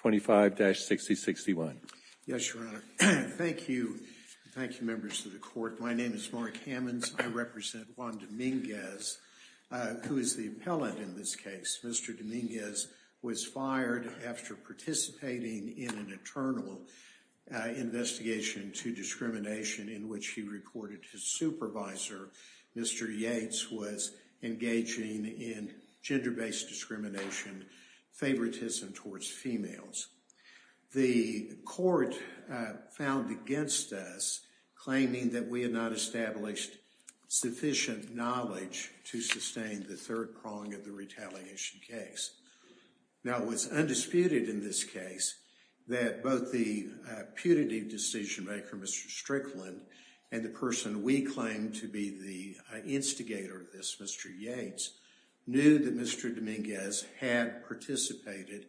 25-6061. Yes, Your Honor. Thank you. Thank you, members of the court. My name is Mark Hammonds. I represent Juan Dominguez, who is the appellant in this case. Mr. Dominguez was fired after participating in an internal investigation into discrimination in which he reported his supervisor, Mr. Yates, was engaging in gender-based discrimination. favoritism towards females. The court found against us, claiming that we had not established sufficient knowledge to sustain the third prong of the retaliation case. Now, it was undisputed in this case that both the putative decision-maker, Mr. Strickland, and the person we claimed to be the instigator of this, Mr. Yates, knew that Mr. Dominguez had participated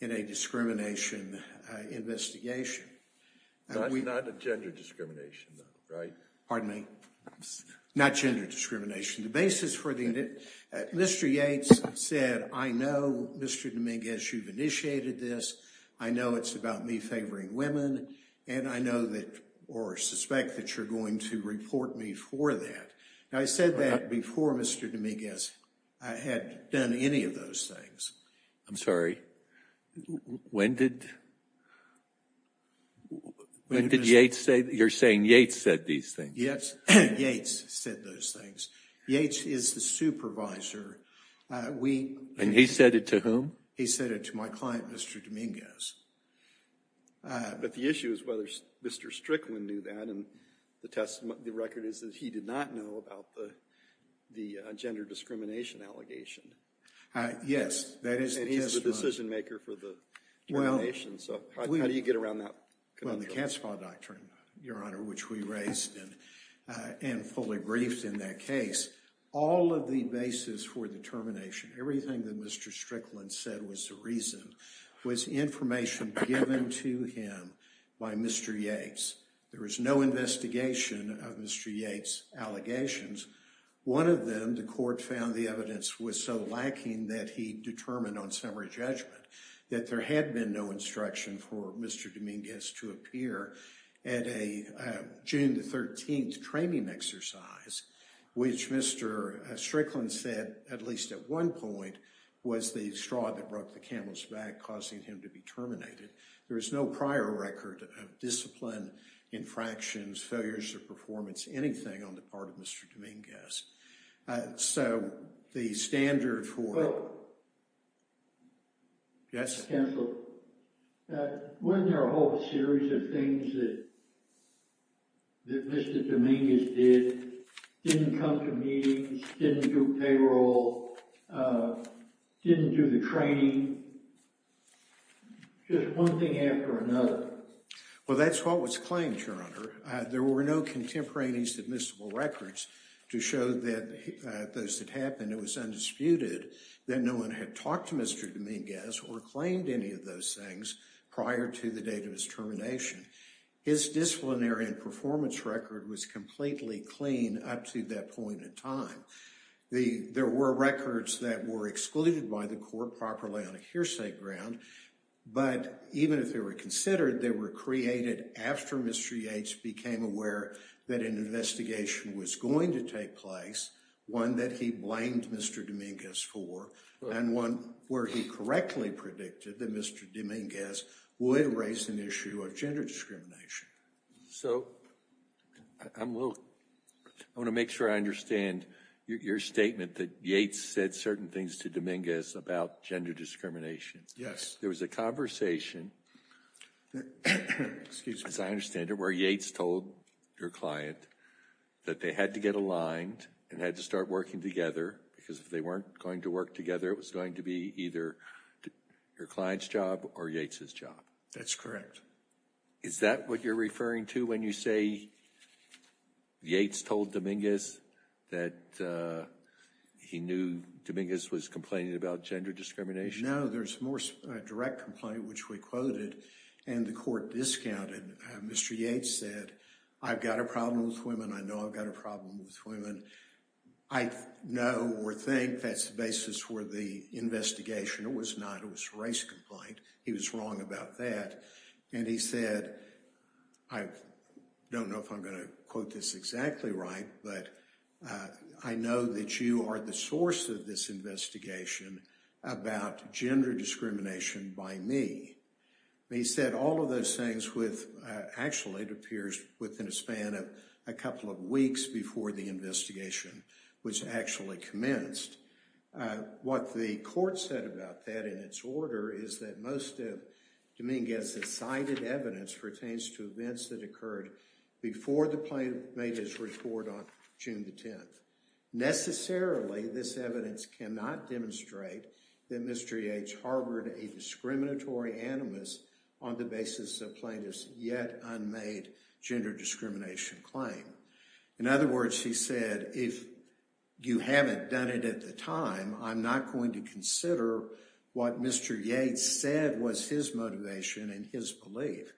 in a discrimination investigation. Not gender discrimination, though, right? Pardon me? Not gender discrimination. The basis for the Mr. Yates said, I know, Mr. Dominguez, you've initiated this. I know it's about me favoring women, and I know that or suspect that you're going to report me for that. Now, I said that before Mr. Dominguez had done any of those things. I'm sorry, when did Yates say, you're saying Yates said these things? Yes, Yates said those things. Yates is the supervisor. And he said it to whom? He said it to my client, Mr. Dominguez. But the issue is whether Mr. Strickland knew that, and the record is that he did not know about the gender discrimination allegation. Yes, that is the testimony. And he's the decision-maker for the determination, so how do you get around that? Well, the Catspaw Doctrine, Your Honor, which we raised and fully briefed in that case, all of the basis for determination, everything that Mr. Strickland said was the reason, was information given to him by Mr. Yates. There was no investigation of Mr. Yates' allegations. One of them, the court found the evidence was so lacking that he determined on summary judgment that there had been no instruction for Mr. Dominguez to appear at a June 13th training exercise, which Mr. Strickland said, at least at one point, was the straw that broke the camel's back, causing him to be terminated. There is no prior record of discipline, infractions, failures of performance, anything on the part of Mr. Dominguez. Wasn't there a whole series of things that Mr. Dominguez did, didn't come to meetings, didn't do payroll, didn't do the training, just one thing after another? Well, that's what was claimed, Your Honor. There were no contemporaneous admissible records to show that those that happened, it was undisputed that no one had talked to Mr. Dominguez or claimed any of those things prior to the date of his termination. His disciplinary and performance record was completely clean up to that point in time. There were records that were excluded by the court properly on a hearsay ground, but even if they were considered, they were created after Mr. Yates became aware that an investigation was going to take place, one that he blamed Mr. Dominguez for, and one where he correctly predicted that Mr. Dominguez would raise an issue of gender discrimination. So, I want to make sure I understand your statement that Yates said certain things to Dominguez about gender discrimination. Yes. There was a conversation, as I understand it, where Yates told your client that they had to get aligned and had to start working together because if they weren't going to work together, it was going to be either your client's job or Yates's job. That's correct. Is that what you're referring to when you say Yates told Dominguez that he knew Dominguez was complaining about gender discrimination? No, there's more direct complaint, which we quoted and the court discounted. Mr. Yates said, I've got a problem with women. I know I've got a problem with women. I know or think that's the basis for the investigation. It was not. It was a race complaint. He was wrong about that. And he said, I don't know if I'm going to quote this exactly right, but I know that you are the source of this investigation about gender discrimination by me. He said all of those things with, actually, it appears within a span of a couple of weeks before the investigation was actually commenced. What the court said about that in its order is that most of Dominguez's cited evidence pertains to events that occurred before the plaintiff made his report on June the 10th. Necessarily, this evidence cannot demonstrate that Mr. Yates harbored a discriminatory animus on the basis of plaintiff's yet unmade gender discrimination claim. In other words, he said, if you haven't done it at the time, I'm not going to consider what Mr. Yates said was his motivation and his belief.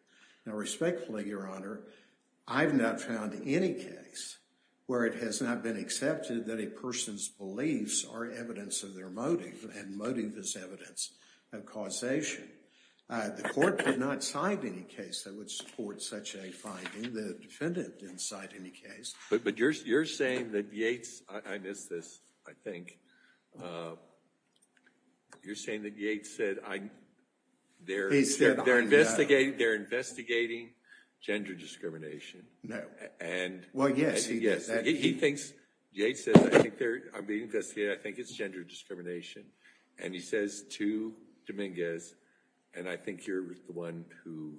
Now, respectfully, Your Honor, I have not found any case where it has not been accepted that a person's beliefs are evidence of their motive, and motive is evidence of causation. The court did not cite any case that would support such a finding. The defendant didn't cite any case. But you're saying that Yates, I missed this, I think, you're saying that Yates said, they're investigating gender discrimination. No. Well, yes. He thinks, Yates says, I'm being investigated, I think it's gender discrimination. And he says to Dominguez, and I think you're the one who's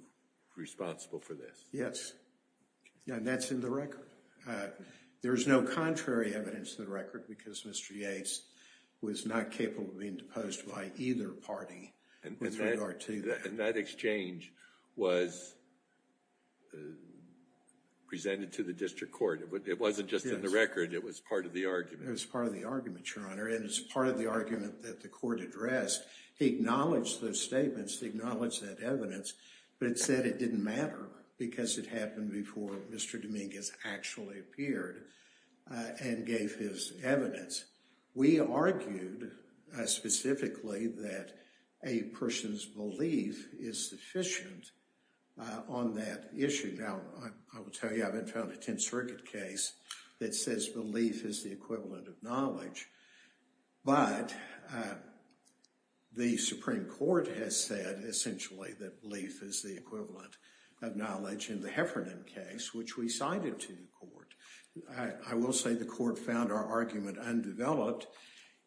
responsible for this. Yes. And that's in the record. There is no contrary evidence to the record, because Mr. Yates was not capable of being deposed by either party. And that exchange was presented to the district court. It wasn't just in the record, it was part of the argument. It was part of the argument, Your Honor, and it's part of the argument that the court addressed. He acknowledged those statements, he acknowledged that evidence, but it said it didn't matter because it happened before Mr. Dominguez actually appeared and gave his evidence. We argued specifically that a person's belief is sufficient on that issue. Now, I will tell you, I haven't found a Tenth Circuit case that says belief is the equivalent of knowledge. But the Supreme Court has said, essentially, that belief is the equivalent of knowledge in the Heffernan case, which we cited to the court. I will say the court found our argument undeveloped,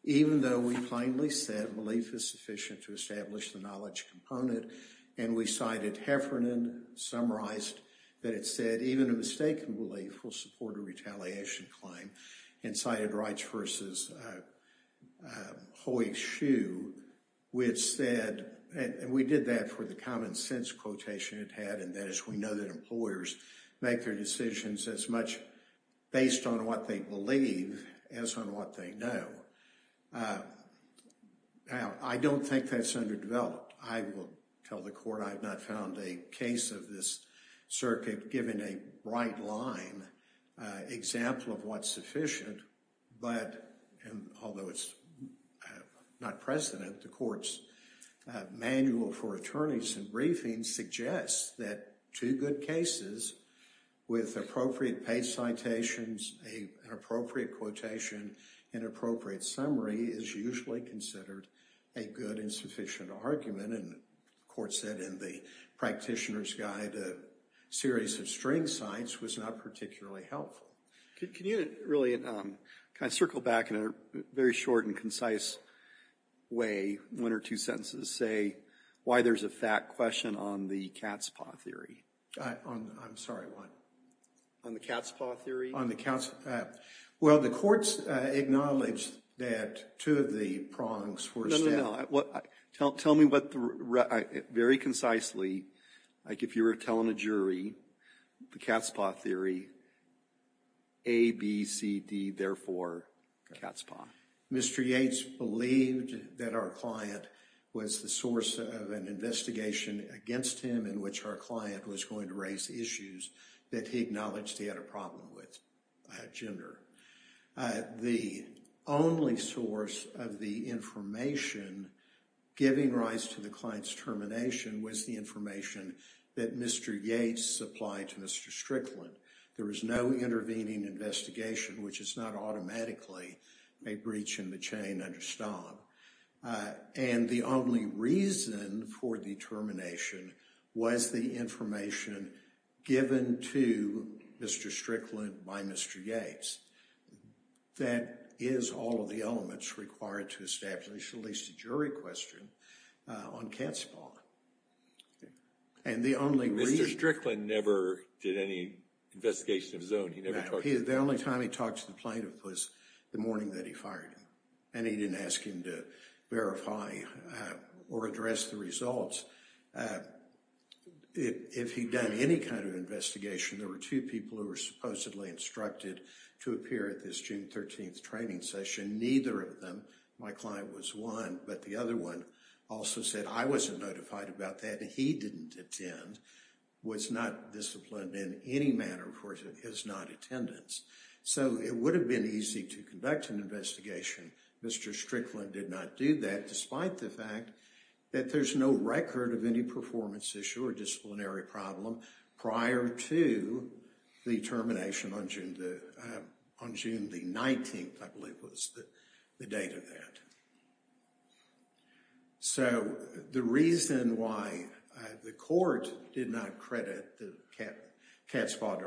even though we plainly said belief is sufficient to establish the knowledge component. And we cited Heffernan, summarized that it said even a mistaken belief will support a retaliation claim, and cited Wrights v. Hoye-Schuh, which said, and we did that for the common sense quotation it had, and that is we know that employers make their decisions as much based on what they believe as on what they know. Now, I don't think that's underdeveloped. I will tell the court I have not found a case of this circuit giving a right-line example of what's sufficient. But, and although it's not precedent, the court's manual for attorneys in briefings suggests that two good cases with appropriate page citations, an appropriate quotation, and appropriate summary is usually considered a good and sufficient argument. And the court said in the practitioner's guide a series of string cites was not particularly helpful. Can you really kind of circle back in a very short and concise way, one or two sentences, say why there's a fat question on the cat's paw theory? I'm sorry, what? On the cat's paw theory? On the cat's paw. Well, the courts acknowledged that two of the prongs were... Tell me very concisely, like if you were telling a jury the cat's paw theory, A, B, C, D, therefore, cat's paw. Mr. Yates believed that our client was the source of an investigation against him in which our client was going to raise issues that he acknowledged he had a problem with, gender. The only source of the information giving rise to the client's termination was the information that Mr. Yates supplied to Mr. Strickland. There was no intervening investigation, which is not automatically a breach in the chain under STOM. And the only reason for the termination was the information given to Mr. Strickland by Mr. Yates. That is all of the elements required to establish at least a jury question on cat's paw. And the only reason... Mr. Strickland never did any investigation of his own. The only time he talked to the plaintiff was the morning that he fired him. And he didn't ask him to verify or address the results. If he'd done any kind of investigation, there were two people who were supposedly instructed to appear at this June 13th training session. Neither of them, my client was one, but the other one also said, I wasn't notified about that and he didn't attend, was not disciplined in any manner for his not attendance. So it would have been easy to conduct an investigation. Mr. Strickland did not do that, despite the fact that there's no record of any performance issue or disciplinary problem prior to the termination on June 19th, I believe was the date of that. So the reason why the court did not credit the cat's paw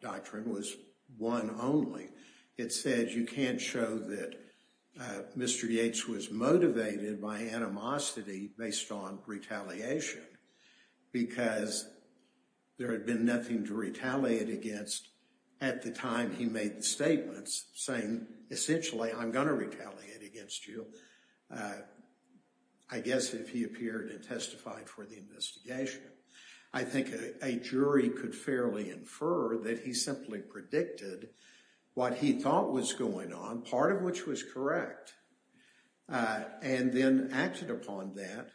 doctrine was one only. It said you can't show that Mr. Yates was motivated by animosity based on retaliation. Because there had been nothing to retaliate against at the time he made the statements saying essentially I'm going to retaliate against you. I guess if he appeared and testified for the investigation. I think a jury could fairly infer that he simply predicted what he thought was going on, part of which was correct. And then acted upon that.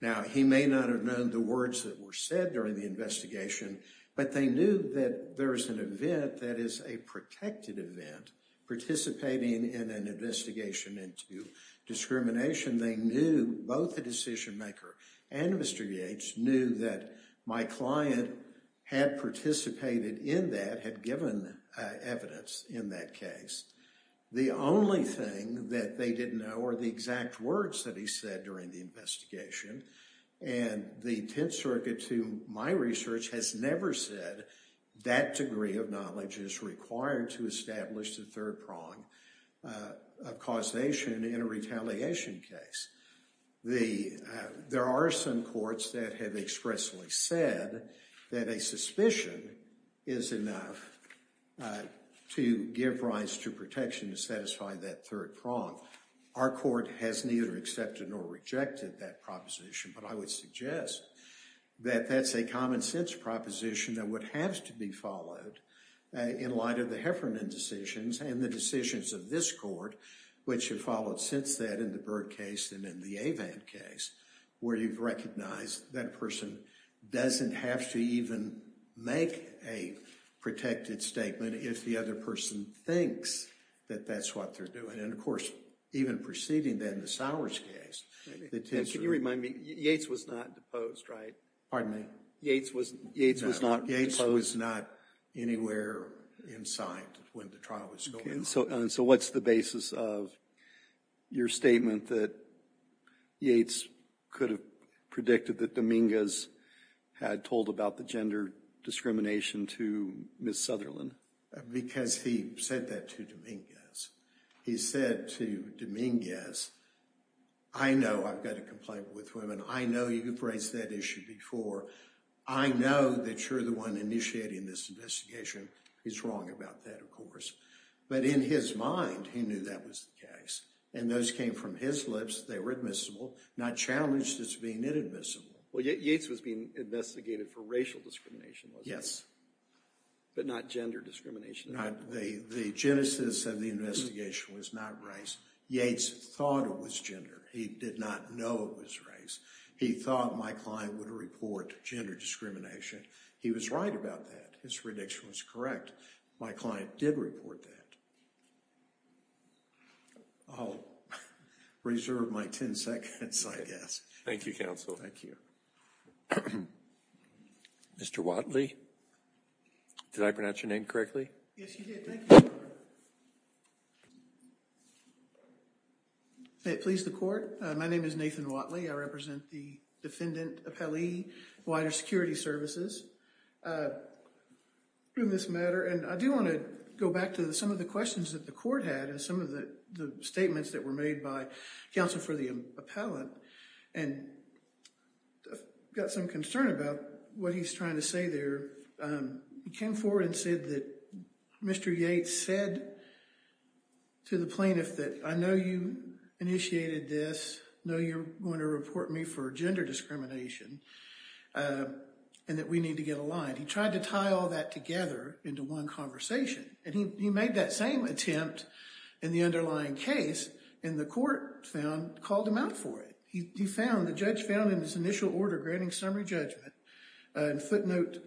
Now he may not have known the words that were said during the investigation, but they knew that there is an event that is a protected event, participating in an investigation into discrimination. They knew both the decision maker and Mr. Yates knew that my client had participated in that, had given evidence in that case. The only thing that they didn't know were the exact words that he said during the investigation. And the Tenth Circuit, to my research, has never said that degree of knowledge is required to establish the third prong of causation in a retaliation case. There are some courts that have expressly said that a suspicion is enough to give rise to protection to satisfy that third prong. Our court has neither accepted nor rejected that proposition. But I would suggest that that's a common sense proposition that would have to be followed in light of the Heffernan decisions and the decisions of this court, which have followed since that in the Byrd case and in the Avand case, where you've recognized that person doesn't have to even make a protected statement if the other person thinks that that's what they're doing. And of course, even preceding that in the Sowers case. Can you remind me, Yates was not deposed, right? Pardon me? Yates was not deposed? Yates was not anywhere inside when the trial was going on. And so what's the basis of your statement that Yates could have predicted that Dominguez had told about the gender discrimination to Ms. Sutherland? Because he said that to Dominguez. He said to Dominguez, I know I've got a complaint with women. I know you've raised that issue before. I know that you're the one initiating this investigation. He's wrong about that, of course. But in his mind, he knew that was the case. And those came from his lips. They were admissible, not challenged as being inadmissible. Well, Yates was being investigated for racial discrimination, wasn't he? Yes. But not gender discrimination? The genesis of the investigation was not race. Yates thought it was gender. He did not know it was race. He thought my client would report gender discrimination. He was right about that. His prediction was correct. My client did report that. I'll reserve my 10 seconds, I guess. Thank you, counsel. Thank you. Mr. Watley? Did I pronounce your name correctly? Yes, you did. Thank you. May it please the court? My name is Nathan Watley. I represent the Defendant Appellee, Wider Security Services. In this matter, and I do want to go back to some of the questions that the court had and some of the statements that were made by counsel for the appellant. And I've got some concern about what he's trying to say there. He came forward and said that Mr. Yates said to the plaintiff that, I know you initiated this. I know you're going to report me for gender discrimination, and that we need to get aligned. He tried to tie all that together into one conversation. And he made that same attempt in the underlying case, and the court found, called him out for it. He found, the judge found in his initial order granting summary judgment, footnote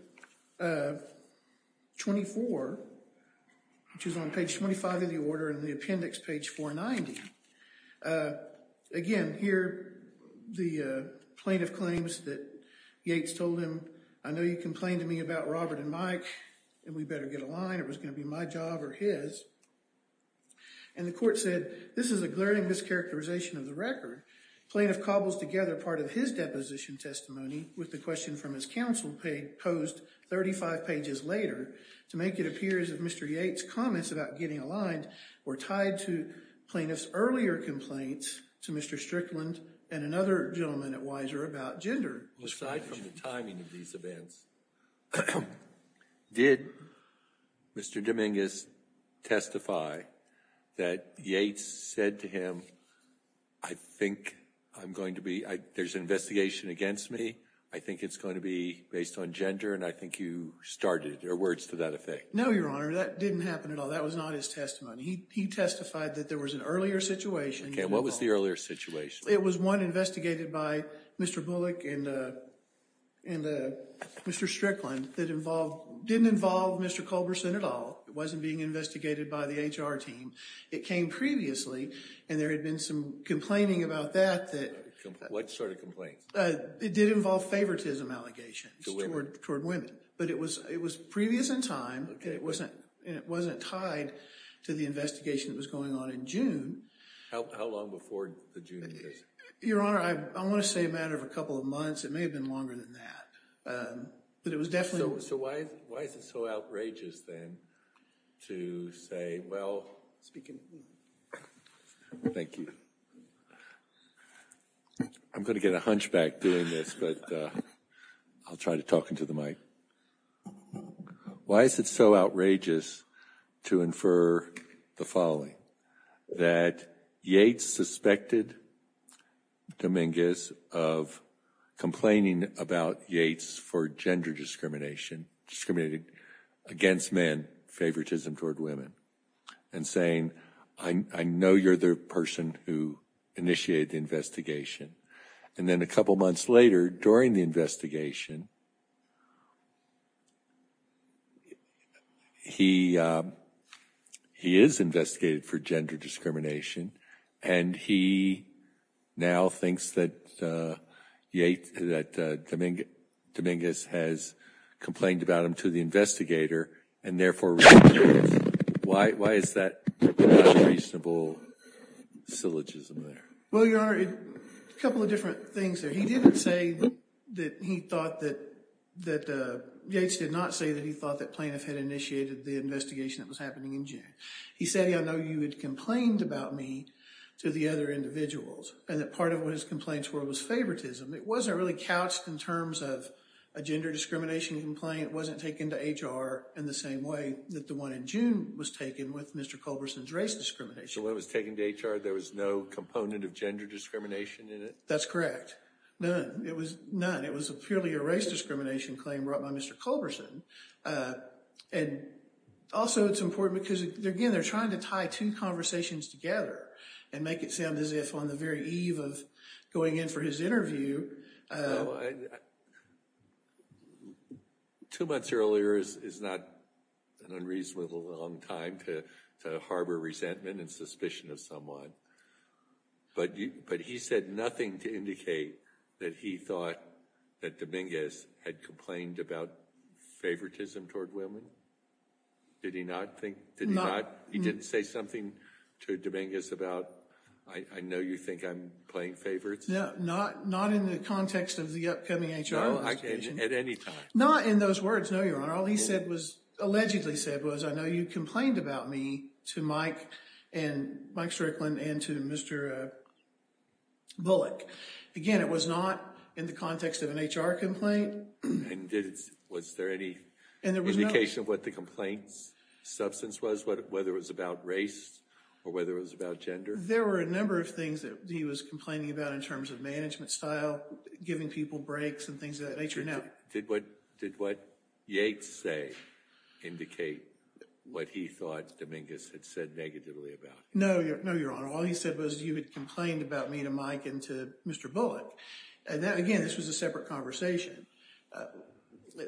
24, which is on page 25 of the order in the appendix, page 490. Again, here, the plaintiff claims that Yates told him, I know you complained to me about Robert and Mike, and we better get aligned. It was going to be my job or his. And the court said, this is a glaring mischaracterization of the record. Plaintiff cobbles together part of his deposition testimony with the question from his counsel posed 35 pages later to make it appear as if Mr. Yates' comments about getting aligned were tied to plaintiff's earlier complaints to Mr. Strickland and another gentleman at Weiser about gender discrimination. Aside from the timing of these events, did Mr. Dominguez testify that Yates said to him, I think I'm going to be, there's an investigation against me, I think it's going to be based on gender, and I think you started, or words to that effect? No, Your Honor, that didn't happen at all. That was not his testimony. He testified that there was an earlier situation. Okay, what was the earlier situation? It was one investigated by Mr. Bullock and Mr. Strickland that didn't involve Mr. Culberson at all. It wasn't being investigated by the HR team. It came previously, and there had been some complaining about that. What sort of complaint? It did involve favoritism allegations toward women. But it was previous in time, and it wasn't tied to the investigation that was going on in June. How long before the June investigation? Your Honor, I want to say a matter of a couple of months. It may have been longer than that. But it was definitely. So why is it so outrageous then to say, well, speaking. Thank you. I'm going to get a hunchback doing this, but I'll try to talk into the mic. Why is it so outrageous to infer the following? That Yates suspected Dominguez of complaining about Yates for gender discrimination, discriminating against men, favoritism toward women, and saying, I know you're the person who initiated the investigation. And then a couple months later, during the investigation, he is investigated for gender discrimination, and he now thinks that Dominguez has complained about him to the investigator, and therefore, why is that not a reasonable syllogism there? Well, Your Honor, a couple of different things there. He didn't say that he thought that Yates did not say that he thought that Plaintiff had initiated the investigation that was happening in June. He said, I know you had complained about me to the other individuals, and that part of what his complaints were was favoritism. It wasn't really couched in terms of a gender discrimination complaint. It wasn't taken to HR in the same way that the one in June was taken with Mr. Culberson's race discrimination. The one that was taken to HR, there was no component of gender discrimination in it? That's correct. None. It was none. It was purely a race discrimination claim brought by Mr. Culberson. And also it's important because, again, they're trying to tie two conversations together and make it sound as if on the very eve of going in for his interview. Two months earlier is not an unreasonable amount of time to harbor resentment and suspicion of someone. But he said nothing to indicate that he thought that Dominguez had complained about favoritism toward women? Did he not? He didn't say something to Dominguez about, I know you think I'm playing favorites? No, not in the context of the upcoming HR investigation. At any time? Not in those words, no, Your Honor. All he allegedly said was, I know you complained about me to Mike Strickland and to Mr. Bullock. Again, it was not in the context of an HR complaint. And was there any indication of what the complaint's substance was, whether it was about race or whether it was about gender? There were a number of things that he was complaining about in terms of management style, giving people breaks and things of that nature. Did what Yates say indicate what he thought Dominguez had said negatively about him? No, Your Honor. All he said was you had complained about me to Mike and to Mr. Bullock. Again, this was a separate conversation.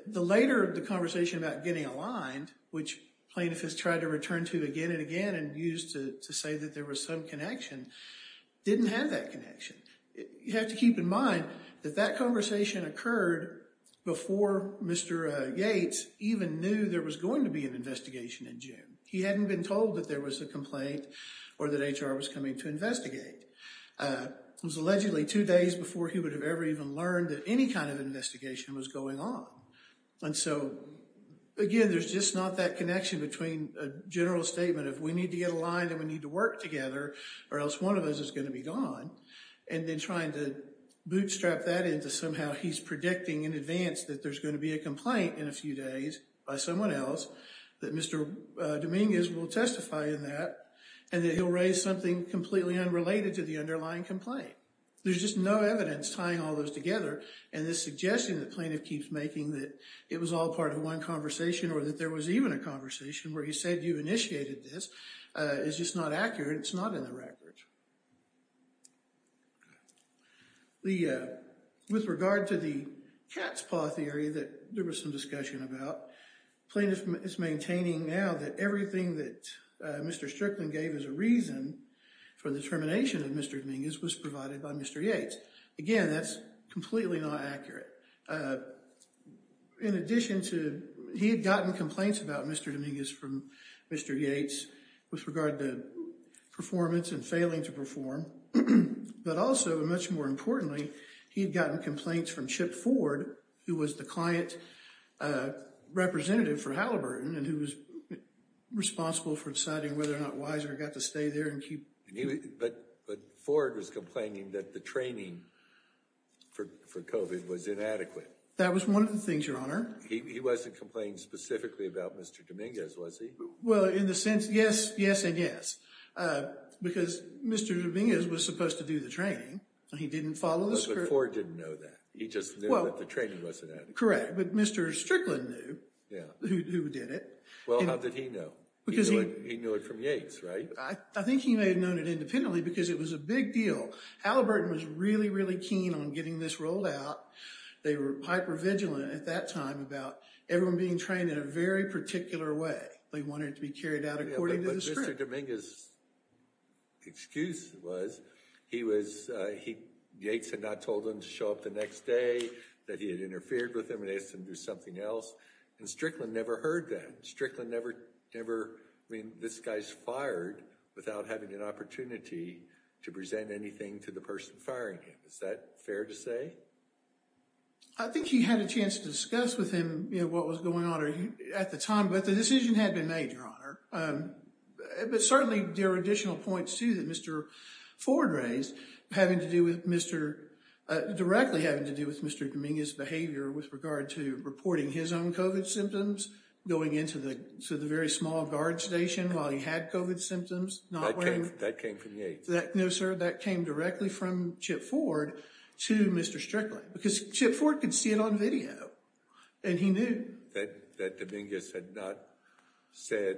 Later, the conversation about getting aligned, which plaintiffs have tried to return to again and again and use to say that there was some connection, didn't have that connection. You have to keep in mind that that conversation occurred before Mr. Yates even knew there was going to be an investigation in June. He hadn't been told that there was a complaint or that HR was coming to investigate. It was allegedly two days before he would have ever even learned that any kind of investigation was going on. Again, there's just not that connection between a general statement of we need to get aligned and we need to work together or else one of us is going to be gone and then trying to bootstrap that into somehow he's predicting in advance that there's going to be a complaint in a few days by someone else that Mr. Dominguez will testify in that and that he'll raise something completely unrelated to the underlying complaint. There's just no evidence tying all those together and this suggestion that plaintiff keeps making that it was all part of one conversation or that there was even a conversation where he said you initiated this is just not accurate. It's not in the record. With regard to the cat's paw theory that there was some discussion about, plaintiff is maintaining now that everything that Mr. Strickland gave as a reason for the termination of Mr. Dominguez was provided by Mr. Yates. Again, that's completely not accurate. In addition to, he had gotten complaints about Mr. Dominguez from Mr. Yates with regard to performance and failing to perform. But also, much more importantly, he had gotten complaints from Chip Ford who was the client representative for Halliburton and who was responsible for deciding whether or not Weiser got to stay there and keep... But Ford was complaining that the training for COVID was inadequate. That was one of the things, Your Honor. He wasn't complaining specifically about Mr. Dominguez, was he? Well, in the sense, yes and yes. Because Mr. Dominguez was supposed to do the training and he didn't follow the script. But Ford didn't know that. He just knew that the training wasn't adequate. Correct, but Mr. Strickland knew who did it. Well, how did he know? He knew it from Yates, right? I think he may have known it independently because it was a big deal. Halliburton was really, really keen on getting this rolled out. They were hyper-vigilant at that time about everyone being trained in a very particular way. They wanted it to be carried out according to the script. Yeah, but Mr. Dominguez's excuse was he was... Yates had not told him to show up the next day, that he had interfered with him and asked him to do something else. And Strickland never heard that. Strickland never, I mean, this guy's fired without having an opportunity to present anything to the person firing him. Is that fair to say? I think he had a chance to discuss with him what was going on at the time. But the decision had been made, Your Honor. But certainly, there are additional points, too, that Mr. Ford raised having to do with Mr. directly having to do with Mr. Dominguez's behavior with regard to reporting his own COVID symptoms, going into the very small guard station while he had COVID symptoms, not wearing... That came from Yates. No, sir, that came directly from Chip Ford to Mr. Strickland. Because Chip Ford could see it on video, and he knew... That Dominguez had not said,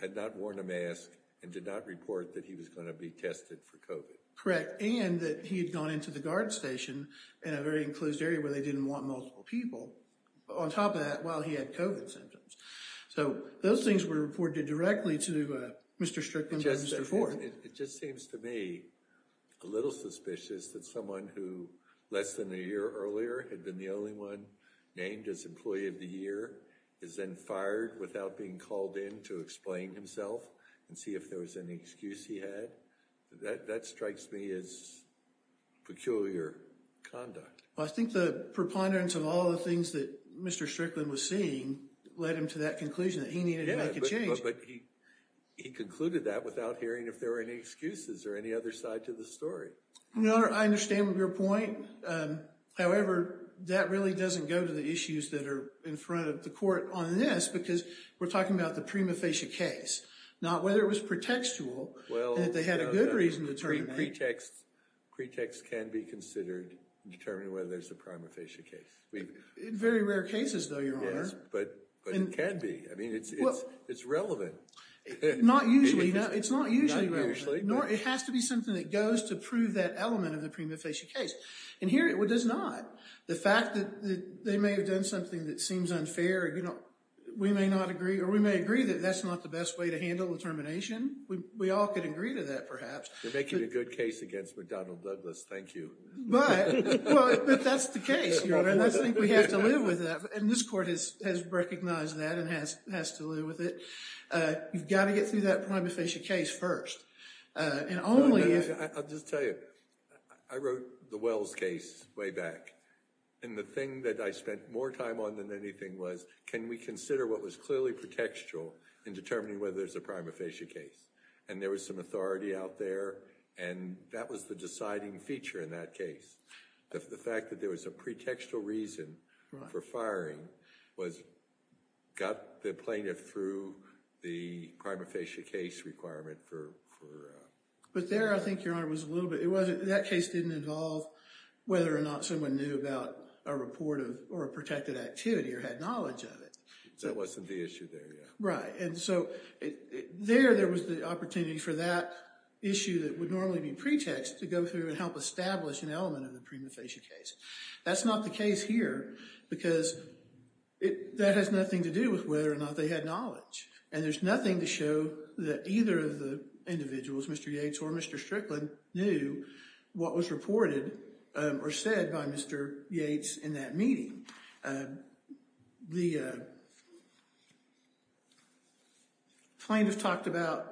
had not worn a mask, and did not report that he was going to be tested for COVID. Correct, and that he had gone into the guard station in a very enclosed area where they didn't want multiple people. On top of that, while he had COVID symptoms. So those things were reported directly to Mr. Strickland and Mr. Ford. It just seems to me a little suspicious that someone who, less than a year earlier, had been the only one named as Employee of the Year, is then fired without being called in to explain himself and see if there was any excuse he had. That strikes me as peculiar conduct. I think the preponderance of all the things that Mr. Strickland was seeing led him to that conclusion that he needed to make a change. Yeah, but he concluded that without hearing if there were any excuses or any other side to the story. Your Honor, I understand your point. However, that really doesn't go to the issues that are in front of the court on this, because we're talking about the prima facie case, not whether it was pretextual, that they had a good reason to terminate. Pretext can be considered in determining whether there's a prima facie case. In very rare cases, though, Your Honor. Yes, but it can be. I mean, it's relevant. Not usually. It's not usually relevant. Not usually. Nor it has to be something that goes to prove that element of the prima facie case. And here it does not. The fact that they may have done something that seems unfair, we may agree that that's not the best way to handle the termination. We all could agree to that, perhaps. You're making a good case against McDonnell Douglas. Thank you. But that's the case, Your Honor. And I think we have to live with that. And this court has recognized that and has to live with it. You've got to get through that prima facie case first. I'll just tell you. I wrote the Wells case way back. And the thing that I spent more time on than anything was, can we consider what was clearly pretextual in determining whether there's a prima facie case? And there was some authority out there, and that was the deciding feature in that case. The fact that there was a pretextual reason for firing got the plaintiff through the prima facie case requirement. But there, I think, Your Honor, that case didn't involve whether or not someone knew about a report of or a protected activity or had knowledge of it. That wasn't the issue there, yeah. Right. And so there, there was the opportunity for that issue that would normally be pretext to go through and help establish an element of the prima facie case. That's not the case here because that has nothing to do with whether or not they had knowledge. And there's nothing to show that either of the individuals, Mr. Yates or Mr. Strickland, knew what was reported or said by Mr. Yates in that meeting. The plaintiff talked about,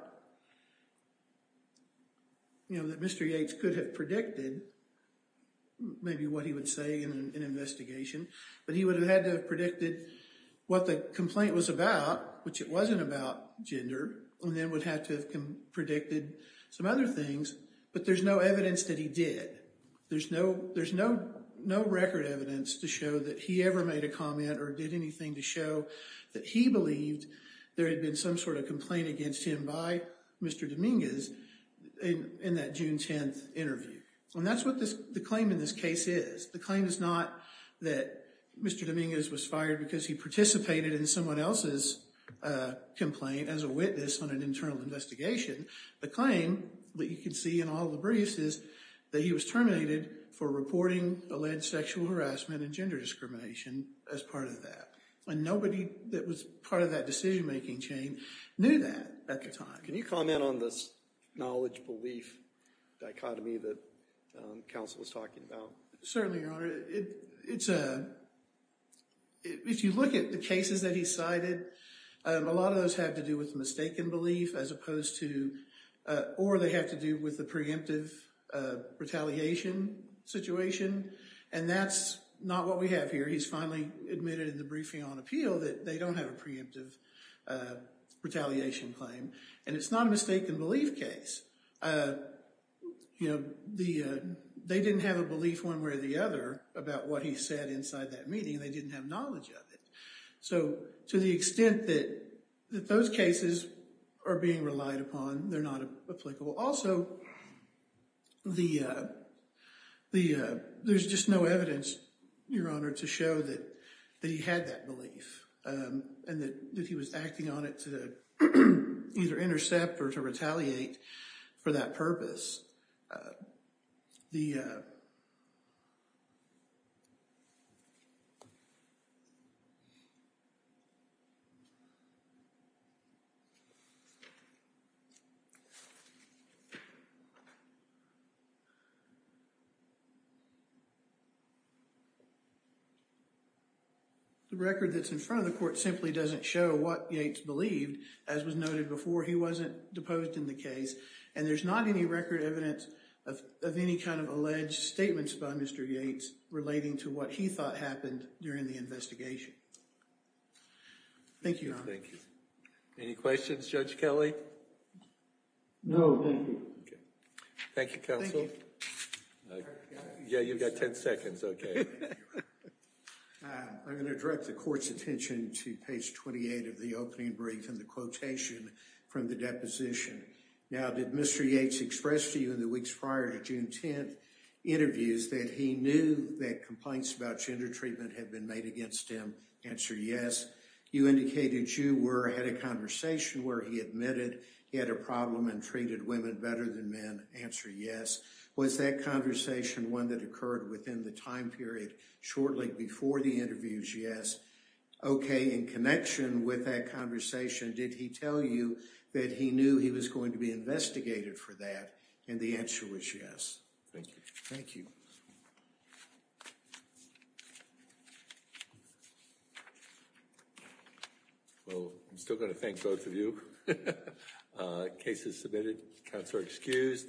you know, that Mr. Yates could have predicted maybe what he would say in an investigation, but he would have had to have predicted what the complaint was about, which it wasn't about gender, and then would have to have predicted some other things. But there's no evidence that he did. There's no record evidence to show that he ever made a comment or did anything to show that he believed there had been some sort of complaint against him by Mr. Dominguez in that June 10th interview. And that's what the claim in this case is. The claim is not that Mr. Dominguez was fired because he participated in someone else's complaint as a witness on an internal investigation. The claim that you can see in all the briefs is that he was terminated for reporting alleged sexual harassment and gender discrimination as part of that. And nobody that was part of that decision-making chain knew that at the time. Can you comment on this knowledge-belief dichotomy that counsel was talking about? Certainly, Your Honor. If you look at the cases that he cited, a lot of those have to do with mistaken belief as opposed to, or they have to do with the preemptive retaliation situation. And that's not what we have here. He's finally admitted in the briefing on appeal that they don't have a preemptive retaliation claim. And it's not a mistaken-belief case. They didn't have a belief one way or the other about what he said inside that meeting. They didn't have knowledge of it. So to the extent that those cases are being relied upon, they're not applicable. Also, there's just no evidence, Your Honor, to show that he had that belief and that he was acting on it to either intercept or to retaliate for that purpose. The record that's in front of the court simply doesn't show what Yates believed. As was noted before, he wasn't deposed in the case. And there's not any record evidence of any kind of alleged statements by Mr. Yates relating to what he thought happened during the investigation. Thank you, Your Honor. Thank you. Any questions, Judge Kelly? No, thank you. Thank you, counsel. Yeah, you've got 10 seconds, okay. I'm going to direct the court's attention to page 28 of the opening brief and the quotation from the deposition. Now, did Mr. Yates express to you in the weeks prior to June 10th interviews that he knew that complaints about gender treatment had been made against him? Answer yes. You indicated you were at a conversation where he admitted he had a problem and treated women better than men. Answer yes. Was that conversation one that occurred within the time period shortly before the interviews? Yes. Okay, in connection with that conversation, did he tell you that he knew he was going to be investigated for that? And the answer was yes. Thank you. Well, I'm still going to thank both of you. Case is submitted. Counsel are excused.